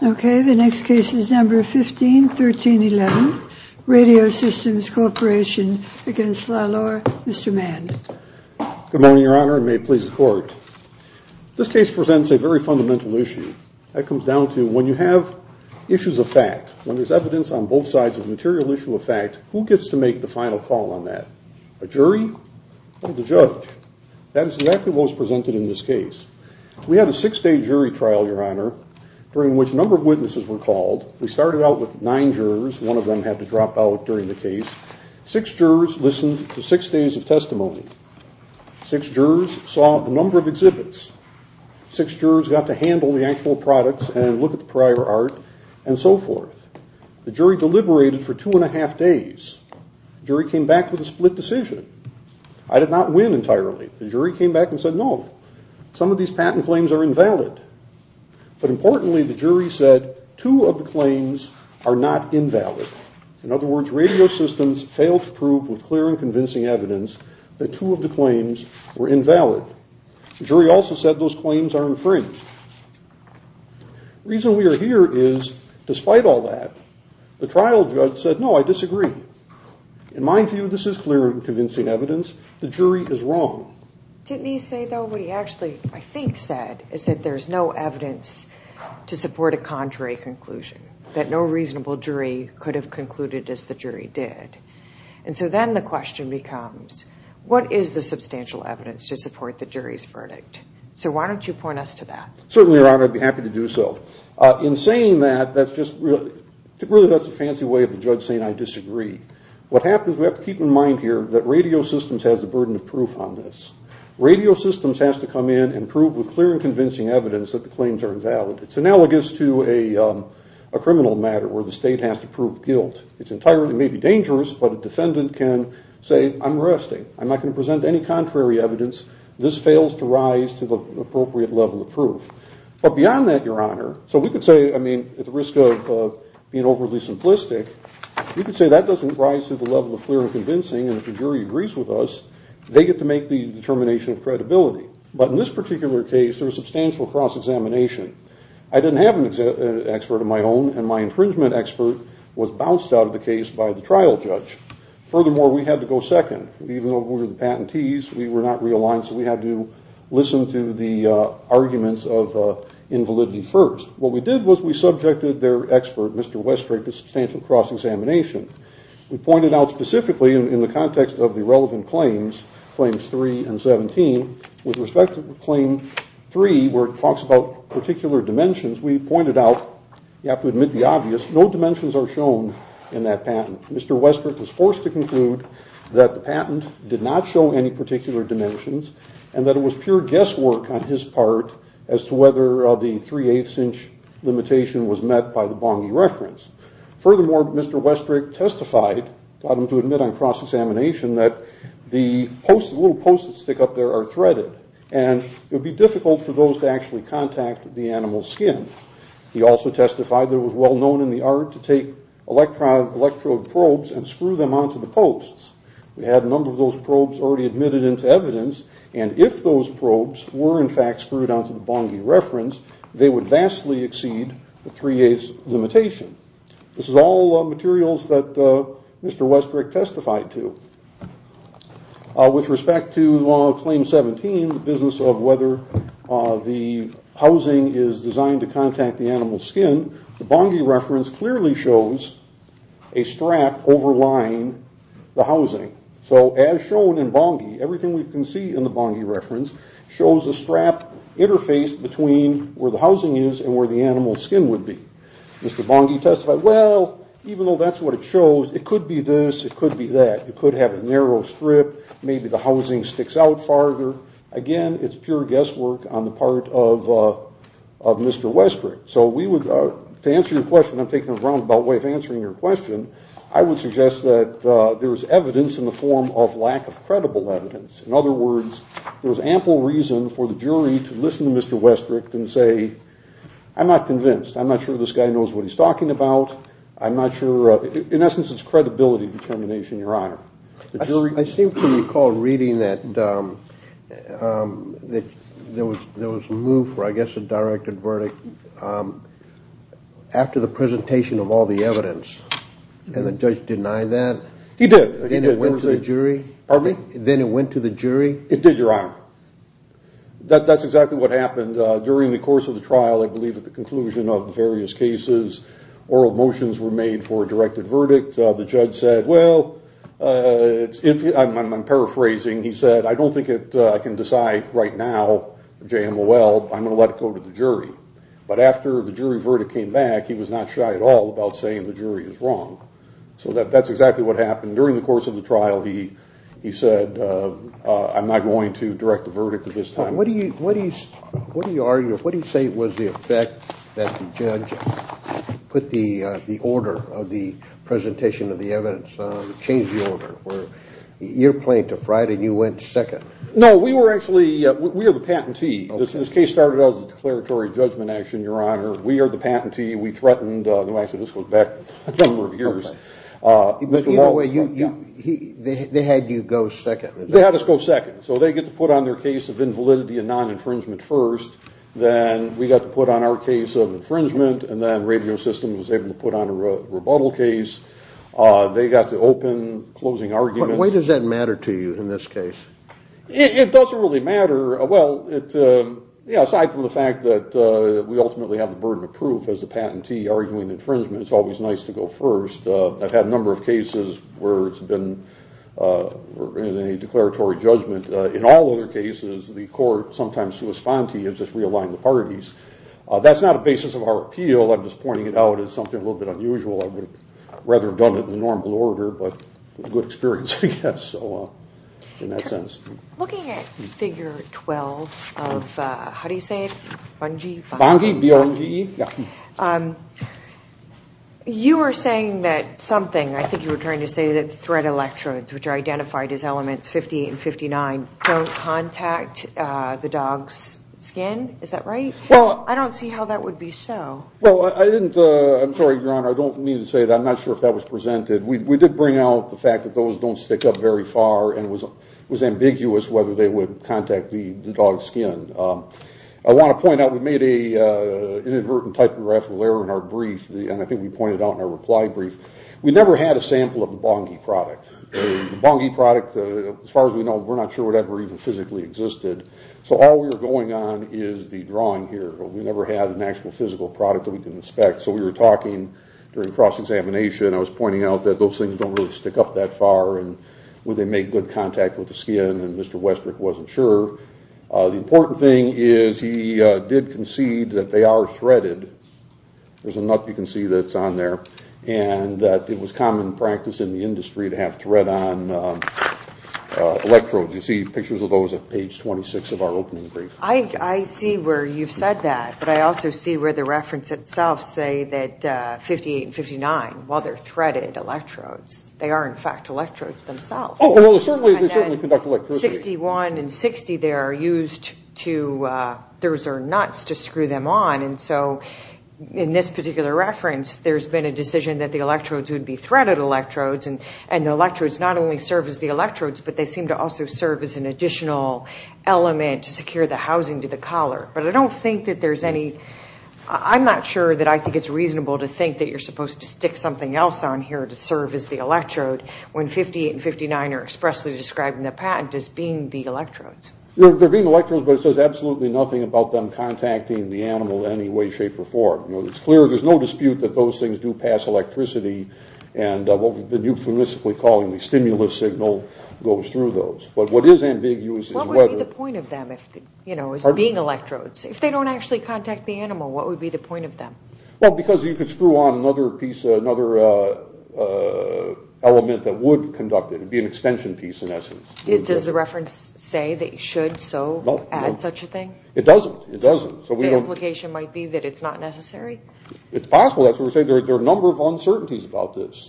Okay, the next case is number 151311, Radio Systems Corporation v. LaLure, Mr. Mann. Good morning, Your Honor, and may it please the Court. This case presents a very fundamental issue. That comes down to when you have issues of fact, when there's evidence on both sides of a material issue of fact, who gets to make the final call on that? A jury or the judge? That is exactly what was presented in this case. We had a six-day jury trial, Your Honor, during which a number of witnesses were called. We started out with nine jurors. One of them had to drop out during the case. Six jurors listened to six days of testimony. Six jurors saw a number of exhibits. Six jurors got to handle the actual products and look at the prior art and so forth. The jury deliberated for two and a half days. The jury came back with a split decision. I did not win entirely. The jury came back and said, no, some of these patent claims are invalid. But importantly, the jury said two of the claims are not invalid. In other words, Radio Systems failed to prove with clear and convincing evidence that two of the claims were invalid. The jury also said those claims are infringed. The reason we are here is, despite all that, the trial judge said, no, I disagree. In my view, this is clear and convincing evidence. The jury is wrong. Didn't he say, though, what he actually, I think, said is that there is no evidence to support a contrary conclusion, that no reasonable jury could have concluded as the jury did? And so then the question becomes, what is the substantial evidence to support the jury's verdict? So why don't you point us to that? Certainly, Your Honor, I'd be happy to do so. In saying that, that's just really a fancy way of the judge saying I disagree. What happens, we have to keep in mind here, that Radio Systems has the burden of proof on this. Radio Systems has to come in and prove with clear and convincing evidence that the claims are invalid. It's analogous to a criminal matter where the state has to prove guilt. It's entirely, maybe dangerous, but a defendant can say, I'm resting. I'm not going to present any contrary evidence. This fails to rise to the appropriate level of proof. But beyond that, Your Honor, so we could say, I mean, at the risk of being overly simplistic, we could say that doesn't rise to the level of clear and convincing, and if the jury agrees with us, they get to make the determination of credibility. But in this particular case, there was substantial cross-examination. I didn't have an expert of my own, and my infringement expert was bounced out of the case by the trial judge. Furthermore, we had to go second. Even though we were the patentees, we were not realigned, so we had to listen to the arguments of invalidity first. What we did was we subjected their expert, Mr. Westrick, to substantial cross-examination. We pointed out specifically in the context of the relevant claims, claims 3 and 17, with respect to claim 3, where it talks about particular dimensions, we pointed out, you have to admit the obvious, no dimensions are shown in that patent. Mr. Westrick was forced to conclude that the patent did not show any particular dimensions and that it was pure guesswork on his part as to whether the three-eighths inch limitation was met by the Bonghi reference. Furthermore, Mr. Westrick testified, allowed him to admit on cross-examination, that the little posts that stick up there are threaded, and it would be difficult for those to actually contact the animal's skin. He also testified that it was well known in the art to take electrode probes and screw them onto the posts. We had a number of those probes already admitted into evidence, and if those probes were in fact screwed onto the Bonghi reference, they would vastly exceed the three-eighths limitation. This is all materials that Mr. Westrick testified to. With respect to claim 17, the business of whether the housing is designed to contact the animal's skin, the Bonghi reference clearly shows a strap overlying the housing. So as shown in Bonghi, everything we can see in the Bonghi reference shows a strap interfaced between where the housing is and where the animal's skin would be. Mr. Bonghi testified, well, even though that's what it shows, it could be this, it could be that. It could have a narrow strip, maybe the housing sticks out farther. Again, it's pure guesswork on the part of Mr. Westrick. So to answer your question, I'm taking a roundabout way of answering your question, I would suggest that there's evidence in the form of lack of credible evidence. In other words, there's ample reason for the jury to listen to Mr. Westrick and say, I'm not convinced. I'm not sure this guy knows what he's talking about. I'm not sure. In essence, it's credibility determination, Your Honor. I seem to recall reading that there was a move for, I guess, a directed verdict after the presentation of all the evidence, and the judge denied that. He did. Then it went to the jury? Pardon me? Then it went to the jury? It did, Your Honor. That's exactly what happened. During the course of the trial, I believe at the conclusion of the various cases, oral motions were made for a directed verdict. The judge said, well, I'm paraphrasing. He said, I don't think I can decide right now, JMOL, I'm going to let it go to the jury. But after the jury verdict came back, he was not shy at all about saying the jury is wrong. So that's exactly what happened. During the course of the trial, he said, I'm not going to direct the verdict at this time. What do you argue? What do you say was the effect that the judge put the order of the presentation of the evidence, changed the order? You're playing to Friday, and you went second. No, we were actually, we are the patentee. This case started out as a declaratory judgment action, Your Honor. We are the patentee. We threatened, actually, this goes back a number of years. They had you go second. They had us go second. So they get to put on their case of invalidity and non-infringement first. Then we got to put on our case of infringement, and then Radio Systems was able to put on a rebuttal case. They got to open closing arguments. Why does that matter to you in this case? It doesn't really matter. Well, aside from the fact that we ultimately have the burden of proof as the patentee arguing infringement, it's always nice to go first. I've had a number of cases where it's been in a declaratory judgment. In all other cases, the court, sometimes sui sponte, has just realigned the parties. That's not a basis of our appeal. I'm just pointing it out as something a little bit unusual. I would rather have done it in the normal order, but it was a good experience, I guess, in that sense. Looking at Figure 12 of, how do you say it, Bungie? Bungie, B-R-U-N-G-E. Yeah. You were saying that something, I think you were trying to say that thread electrodes, which are identified as elements 58 and 59, don't contact the dog's skin. Is that right? Well, I don't see how that would be so. Well, I didn't, I'm sorry, Your Honor, I don't mean to say that. I'm not sure if that was presented. We did bring out the fact that those don't stick up very far, and it was ambiguous whether they would contact the dog's skin. I want to point out we made an inadvertent typographical error in our brief, and I think we pointed it out in our reply brief. We never had a sample of the Bungie product. The Bungie product, as far as we know, we're not sure it ever even physically existed. So all we were going on is the drawing here. We never had an actual physical product that we could inspect. So we were talking during cross-examination, and I was pointing out that those things don't really stick up that far, and would they make good contact with the skin, and Mr. Westbrook wasn't sure. The important thing is he did concede that they are threaded. There's a nut you can see that's on there, and that it was common practice in the industry to have thread-on electrodes. You see pictures of those at page 26 of our opening brief. I see where you've said that, but I also see where the reference itself say that 58 and 59, while they're threaded electrodes, they are, in fact, electrodes themselves. Oh, well, they certainly conduct electricity. And then 61 and 60, they are used to—those are nuts to screw them on. And so in this particular reference, there's been a decision that the electrodes would be threaded electrodes, and the electrodes not only serve as the electrodes, but they seem to also serve as an additional element to secure the housing to the collar. But I don't think that there's any—I'm not sure that I think it's reasonable to think that you're supposed to stick something else on here to serve as the electrode when 58 and 59 are expressly described in the patent as being the electrodes. They're being electrodes, but it says absolutely nothing about them contacting the animal in any way, shape, or form. It's clear there's no dispute that those things do pass electricity, and what you've been euphemistically calling the stimulus signal goes through those. But what is ambiguous is whether— If they don't actually contact the animal, what would be the point of them? Well, because you could screw on another piece, another element that would conduct it. It would be an extension piece in essence. Does the reference say that you should so add such a thing? It doesn't. It doesn't. The implication might be that it's not necessary? It's possible. That's what we're saying. There are a number of uncertainties about this.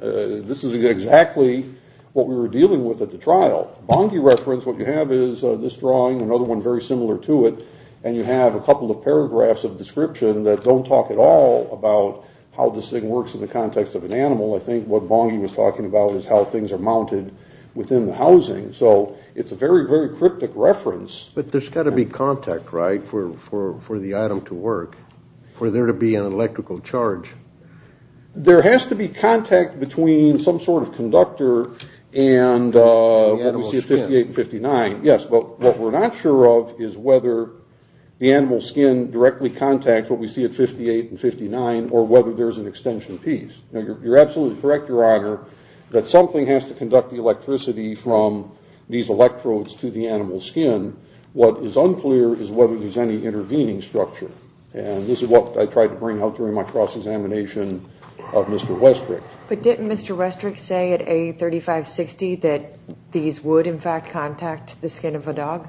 This is exactly what we were dealing with at the trial. Bonghi reference, what you have is this drawing, another one very similar to it, and you have a couple of paragraphs of description that don't talk at all about how this thing works in the context of an animal. I think what Bonghi was talking about is how things are mounted within the housing. So it's a very, very cryptic reference. But there's got to be contact, right, for the item to work, for there to be an electrical charge. There has to be contact between some sort of conductor and what we see at 58 and 59. Yes, but what we're not sure of is whether the animal skin directly contacts what we see at 58 and 59 or whether there's an extension piece. You're absolutely correct, Your Honor, that something has to conduct the electricity from these electrodes to the animal skin. What is unclear is whether there's any intervening structure. This is what I tried to bring out during my cross-examination of Mr. Westrick. But didn't Mr. Westrick say at A3560 that these would, in fact, contact the skin of a dog?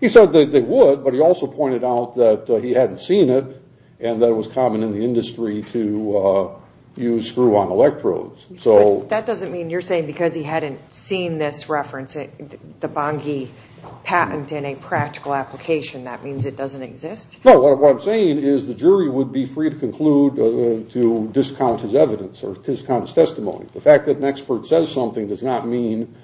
He said that they would, but he also pointed out that he hadn't seen it and that it was common in the industry to use screw-on electrodes. That doesn't mean you're saying because he hadn't seen this reference, the Bonghi patent in a practical application, that means it doesn't exist? No, what I'm saying is the jury would be free to conclude to discount his evidence or discount his testimony. The fact that an expert says something does not mean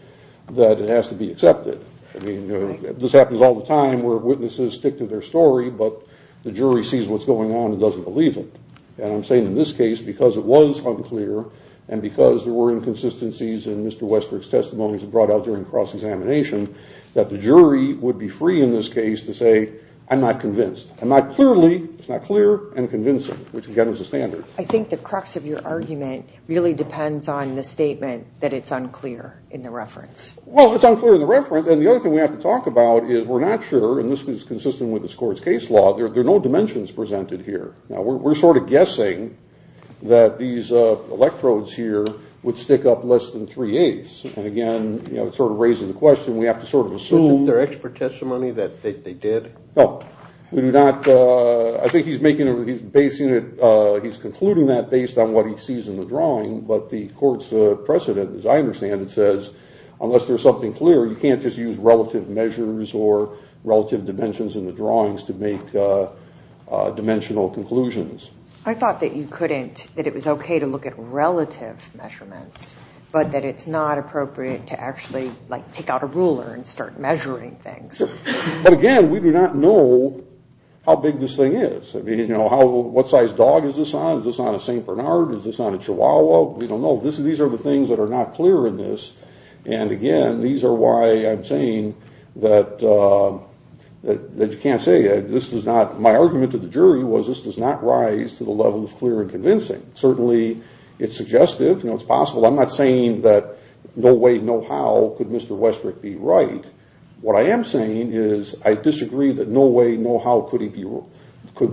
that it has to be accepted. This happens all the time where witnesses stick to their story, but the jury sees what's going on and doesn't believe it. I'm saying in this case, because it was unclear and because there were inconsistencies in Mr. Westrick's testimonies that were brought out during cross-examination, that the jury would be free in this case to say, I'm not convinced. I'm not clearly, it's not clear and convincing, which again is a standard. I think the crux of your argument really depends on the statement that it's unclear in the reference. Well, it's unclear in the reference, and the other thing we have to talk about is we're not sure, and this is consistent with this court's case law, there are no dimensions presented here. We're sort of guessing that these electrodes here would stick up less than three-eighths. And again, it sort of raises the question, we have to sort of assume. Isn't there expert testimony that they did? No. We do not, I think he's making, he's basing it, he's concluding that based on what he sees in the drawing, but the court's precedent, as I understand it, says unless there's something clear, you can't just use relative measures or relative dimensions in the drawings to make dimensional conclusions. I thought that you couldn't, that it was okay to look at relative measurements, but that it's not appropriate to actually take out a ruler and start measuring things. But again, we do not know how big this thing is. What size dog is this on? Is this on a St. Bernard? Is this on a Chihuahua? We don't know. These are the things that are not clear in this, and again, these are why I'm saying that you can't say, my argument to the jury was this does not rise to the level of clear and convincing. Certainly, it's suggestive, it's possible. I'm not saying that no way, no how could Mr. Westrick be right. What I am saying is I disagree that no way, no how could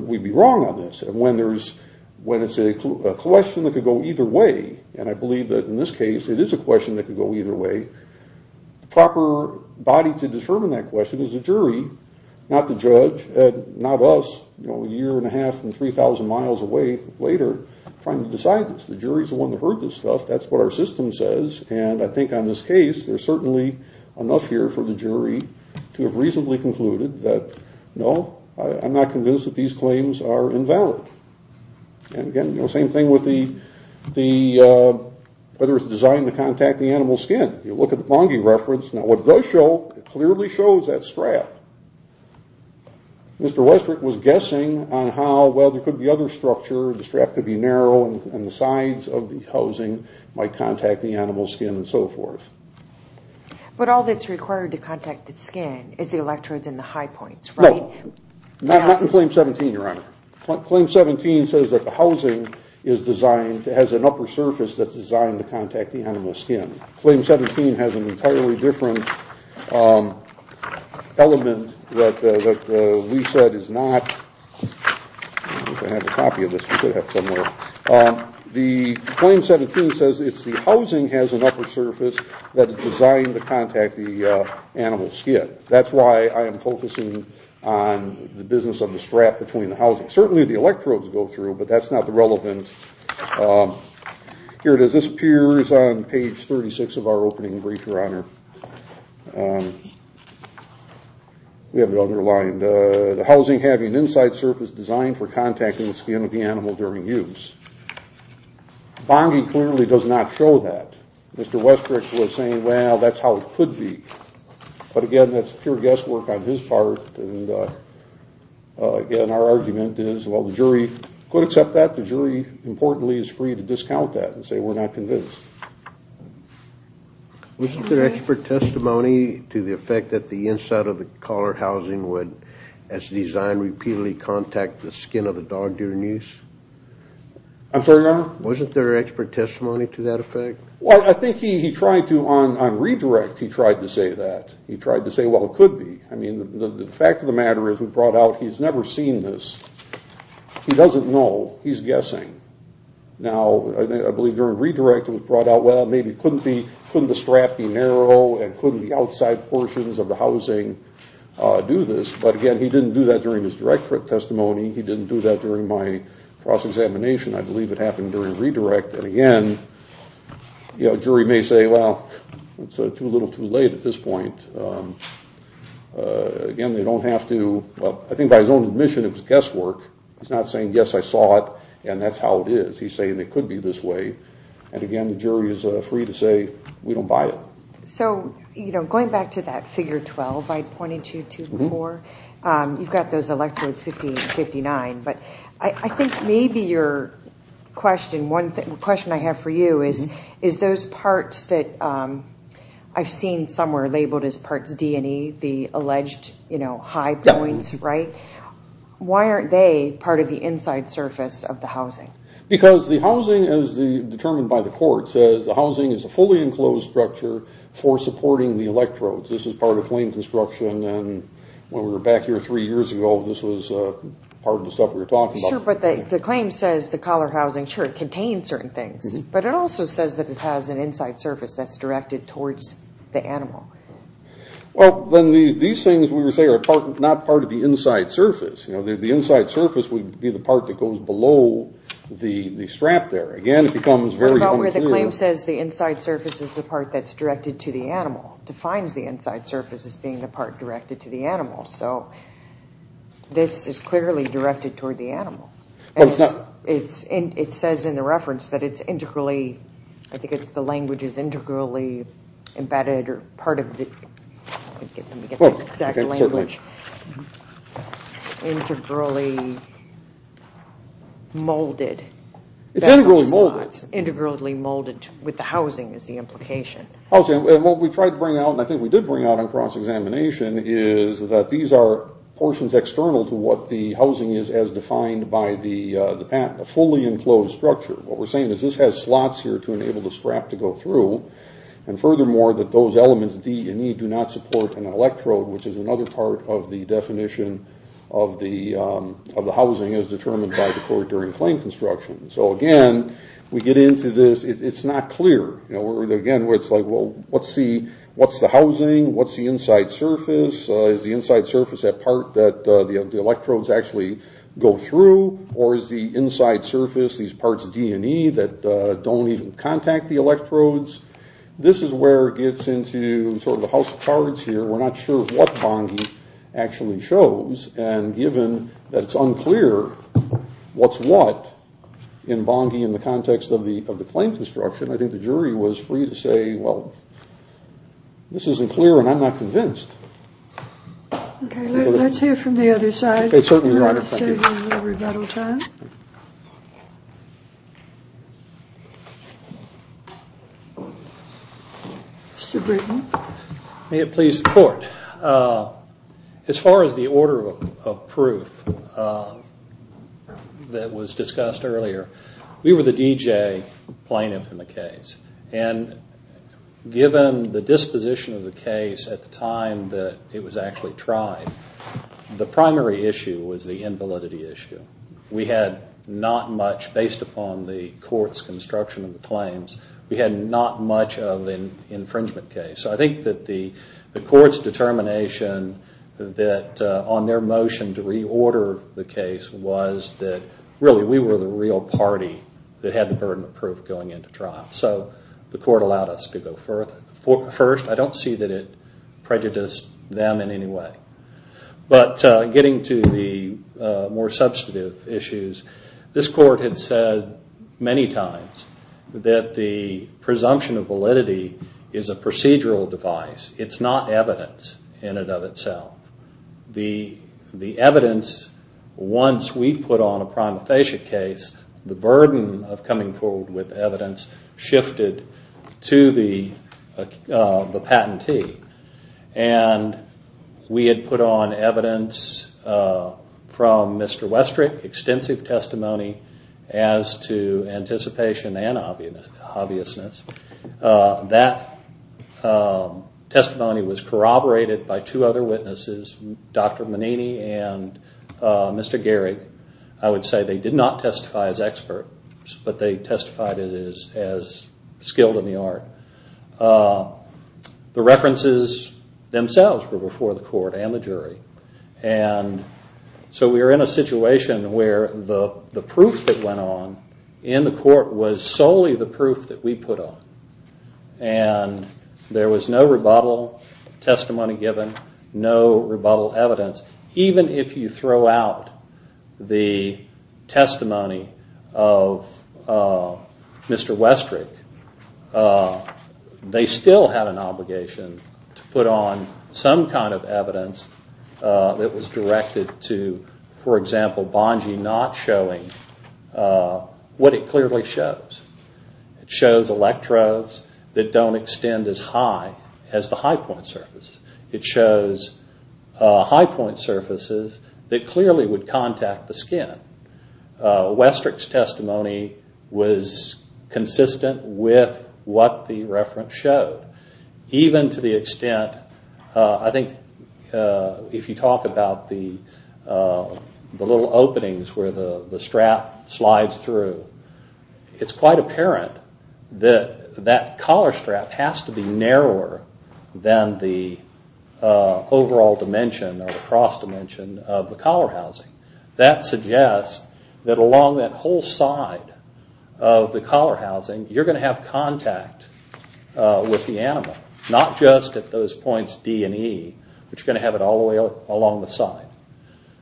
we be wrong on this. And when it's a question that could go either way, and I believe that in this case, it is a question that could go either way, the proper body to determine that question is the jury, not the judge, not us a year and a half and 3,000 miles away later trying to decide this. The jury is the one that heard this stuff, that's what our system says, and I think on this case there's certainly enough here for the jury to have reasonably concluded that no, I'm not convinced that these claims are invalid. And again, same thing with whether it's designed to contact the animal's skin. You look at the Bonge reference, now what it does show, it clearly shows that strap. Mr. Westrick was guessing on how, well there could be other structure, the strap could be narrow, and the sides of the housing might contact the animal's skin and so forth. But all that's required to contact the skin is the electrodes in the high points, right? No, not in Claim 17, Your Honor. Claim 17 says that the housing is designed, has an upper surface that's designed to contact the animal's skin. Claim 17 has an entirely different element that we said is not, I don't know if I have a copy of this, we could have it somewhere. The Claim 17 says it's the housing has an upper surface that is designed to contact the animal's skin. That's why I am focusing on the business of the strap between the housing. Certainly the electrodes go through, but that's not relevant. Here it is, this appears on page 36 of our opening brief, Your Honor. We have it underlined. The housing having an inside surface designed for contacting the skin of the animal during use. Bonge clearly does not show that. Mr. Westrick was saying, well, that's how it could be. But again, that's pure guesswork on his part. Again, our argument is, well, the jury could accept that. The jury, importantly, is free to discount that and say we're not convinced. Wasn't there expert testimony to the effect that the inside of the collar housing would, as designed, repeatedly contact the skin of the dog during use? I'm sorry, Your Honor? Wasn't there expert testimony to that effect? Well, I think he tried to, on redirect, he tried to say that. He tried to say, well, it could be. I mean, the fact of the matter is we brought out he's never seen this. He doesn't know. He's guessing. Now, I believe during redirect it was brought out, well, maybe couldn't the strap be narrow and couldn't the outside portions of the housing do this? But again, he didn't do that during his direct testimony. He didn't do that during my cross-examination. I believe it happened during redirect. And again, a jury may say, well, it's a little too late at this point. Again, they don't have to. I think by his own admission it was guesswork. He's not saying, yes, I saw it, and that's how it is. He's saying it could be this way. And again, the jury is free to say we don't buy it. So, you know, going back to that figure 12 I pointed to before, you've got those electrodes, 50 and 59. But I think maybe your question, one question I have for you is those parts that I've seen somewhere labeled as parts D and E, the alleged high points, right? Why aren't they part of the inside surface of the housing? Because the housing, as determined by the court, says the housing is a fully enclosed structure for supporting the electrodes. This is part of flame construction. When we were back here three years ago, this was part of the stuff we were talking about. Sure, but the claim says the collar housing, sure, contains certain things. But it also says that it has an inside surface that's directed towards the animal. Well, then these things we were saying are not part of the inside surface. The inside surface would be the part that goes below the strap there. Again, it becomes very unclear. What about where the claim says the inside surface is the part that's directed to the animal? It defines the inside surface as being the part directed to the animal. So this is clearly directed toward the animal. It says in the reference that it's integrally, I think the language is integrally embedded, or part of the, let me get the exact language, integrally molded. It's integrally molded. Integrally molded with the housing is the implication. What we tried to bring out, and I think we did bring out on cross-examination, is that these are portions external to what the housing is as defined by the patent, a fully enclosed structure. What we're saying is this has slots here to enable the strap to go through, and furthermore that those elements, D and E, do not support an electrode, which is another part of the definition of the housing as determined by the court during flame construction. So again, we get into this, it's not clear. Again, it's like, well, what's the housing? What's the inside surface? Is the inside surface that part that the electrodes actually go through, or is the inside surface these parts, D and E, that don't even contact the electrodes? This is where it gets into sort of the house of cards here. We're not sure what Bonghi actually shows, and given that it's unclear what's what in Bonghi in the context of the flame construction, I think the jury was free to say, well, this isn't clear and I'm not convinced. Okay, let's hear from the other side. Certainly, Your Honor, thank you. Mr. Britton. May it please the Court. As far as the order of proof that was discussed earlier, we were the DJ plaintiff in the case, and given the disposition of the case at the time that it was actually tried, the primary issue was the invalidity issue. We had not much, based upon the court's construction of the claims, we had not much of an infringement case. So I think that the court's determination on their motion to reorder the case was that, really, we were the real party that had the burden of proof going into trial. So the court allowed us to go first. I don't see that it prejudiced them in any way. But getting to the more substantive issues, this court had said many times that the presumption of validity is a procedural device. It's not evidence in and of itself. The evidence, once we put on a prima facie case, the burden of coming forward with evidence shifted to the patentee. We had put on evidence from Mr. Westrick, extensive testimony as to anticipation and obviousness. That testimony was corroborated by two other witnesses, Dr. Manini and Mr. Gehrig. I would say they did not testify as experts, but they testified as skilled in the art. The references themselves were before the court and the jury. And so we were in a situation where the proof that went on in the court was solely the proof that we put on. And there was no rebuttal testimony given, no rebuttal evidence. Even if you throw out the testimony of Mr. Westrick, they still have an obligation to put on some kind of evidence that was directed to, for example, Bongee not showing what it clearly shows. It shows electrodes that don't extend as high as the high point surface. It shows high point surfaces that clearly would contact the skin. Westrick's testimony was consistent with what the reference showed. Even to the extent, I think, if you talk about the little openings where the strap slides through, it's quite apparent that that collar strap has to be narrower than the overall dimension or the cross dimension of the collar housing. That suggests that along that whole side of the collar housing, you're going to have contact with the animal, not just at those points D and E, but you're going to have it all the way along the side.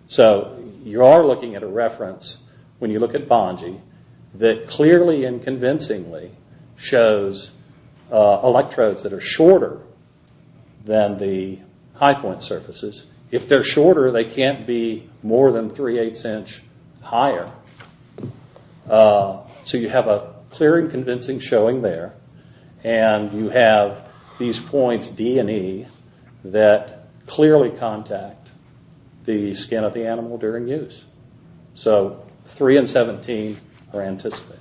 So you are looking at a reference, when you look at Bongee, that clearly and convincingly shows electrodes that are shorter than the high point surfaces. If they're shorter, they can't be more than three-eighths inch higher. So you have a clear and convincing showing there, and you have these points D and E that clearly contact the skin of the animal during use. So three and 17 are anticipated.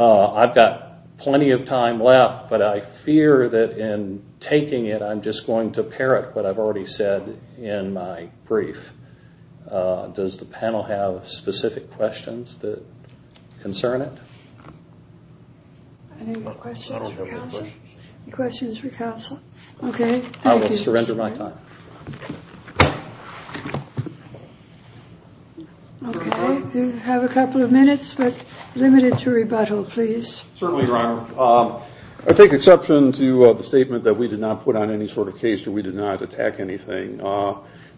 I've got plenty of time left, but I fear that in taking it, I'm just going to parrot what I've already said in my brief. Does the panel have specific questions that concern it? Any questions for counsel? I don't have any questions. Any questions for counsel? Okay. I will surrender my time. Okay. You have a couple of minutes, but limit it to rebuttal, please. Certainly, Your Honor. I take exception to the statement that we did not put on any sort of case, that we did not attack anything.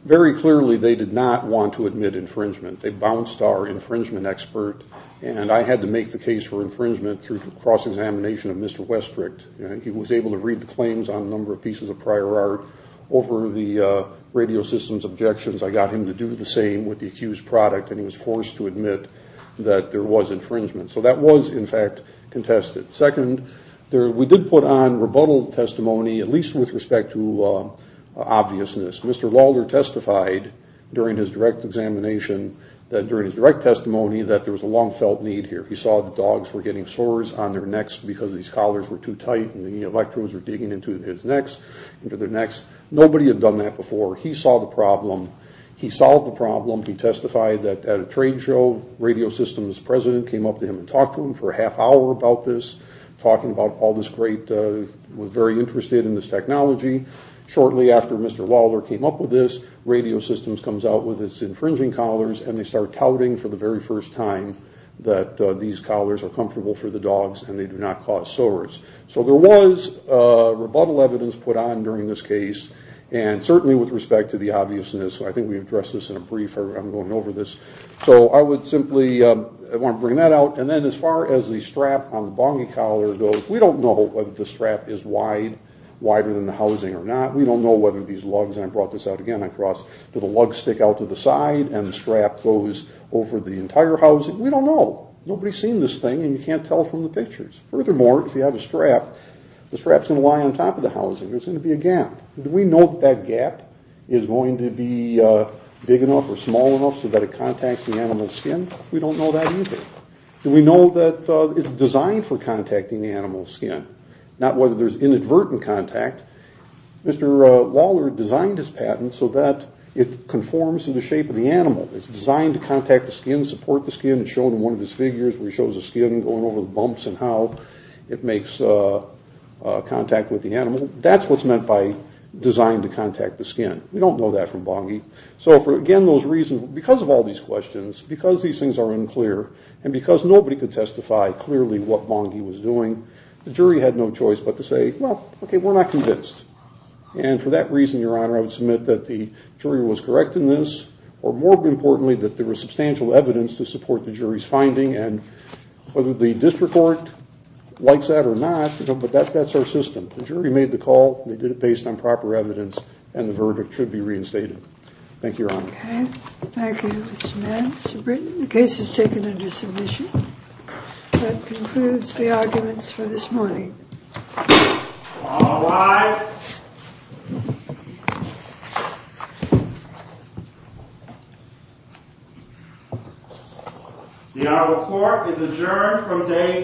Very clearly, they did not want to admit infringement. They bounced our infringement expert, and I had to make the case for infringement through cross-examination of Mr. Westrick. He was able to read the claims on a number of pieces of prior art. Over the radio system's objections, I got him to do the same with the accused product, and he was forced to admit that there was infringement. So that was, in fact, contested. Second, we did put on rebuttal testimony, at least with respect to obviousness. Mr. Lawler testified during his direct examination, during his direct testimony, that there was a long-felt need here. He saw the dogs were getting sores on their necks because these collars were too tight and the electrodes were digging into their necks. Nobody had done that before. He saw the problem. He solved the problem. He testified that at a trade show, radio system's president came up to him and talked to him for a half hour about this, talking about all this great, was very interested in this technology. Shortly after Mr. Lawler came up with this, radio systems comes out with its infringing collars and they start touting for the very first time that these collars are comfortable for the dogs and they do not cause sores. So there was rebuttal evidence put on during this case, and certainly with respect to the obviousness. I think we addressed this in a brief. I'm going over this. So I would simply want to bring that out. And then as far as the strap on the bongy collar goes, we don't know whether the strap is wide, wider than the housing or not. We don't know whether these lugs, and I brought this out again, do the lugs stick out to the side and the strap goes over the entire housing? We don't know. Nobody's seen this thing and you can't tell from the pictures. Furthermore, if you have a strap, the strap's going to lie on top of the housing. There's going to be a gap. Do we know that that gap is going to be big enough or small enough so that it contacts the animal's skin? We don't know that either. Do we know that it's designed for contacting the animal's skin? Not whether there's inadvertent contact. Mr. Waller designed his patent so that it conforms to the shape of the animal. It's designed to contact the skin, support the skin. It's shown in one of his figures where he shows the skin going over the bumps and how it makes contact with the animal. That's what's meant by designed to contact the skin. We don't know that from bongy. Again, those reasons, because of all these questions, because these things are unclear and because nobody could testify clearly what bongy was doing, the jury had no choice but to say, well, okay, we're not convinced. For that reason, Your Honor, I would submit that the jury was correct in this or, more importantly, that there was substantial evidence to support the jury's finding and whether the district court likes that or not, but that's our system. The jury made the call. They did it based on proper evidence, and the verdict should be reinstated. Thank you, Your Honor. Okay. Thank you, Mr. Mann. Mr. Britton, the case is taken under submission. That concludes the arguments for this morning. All rise. The Honorable Court is adjourned from day today.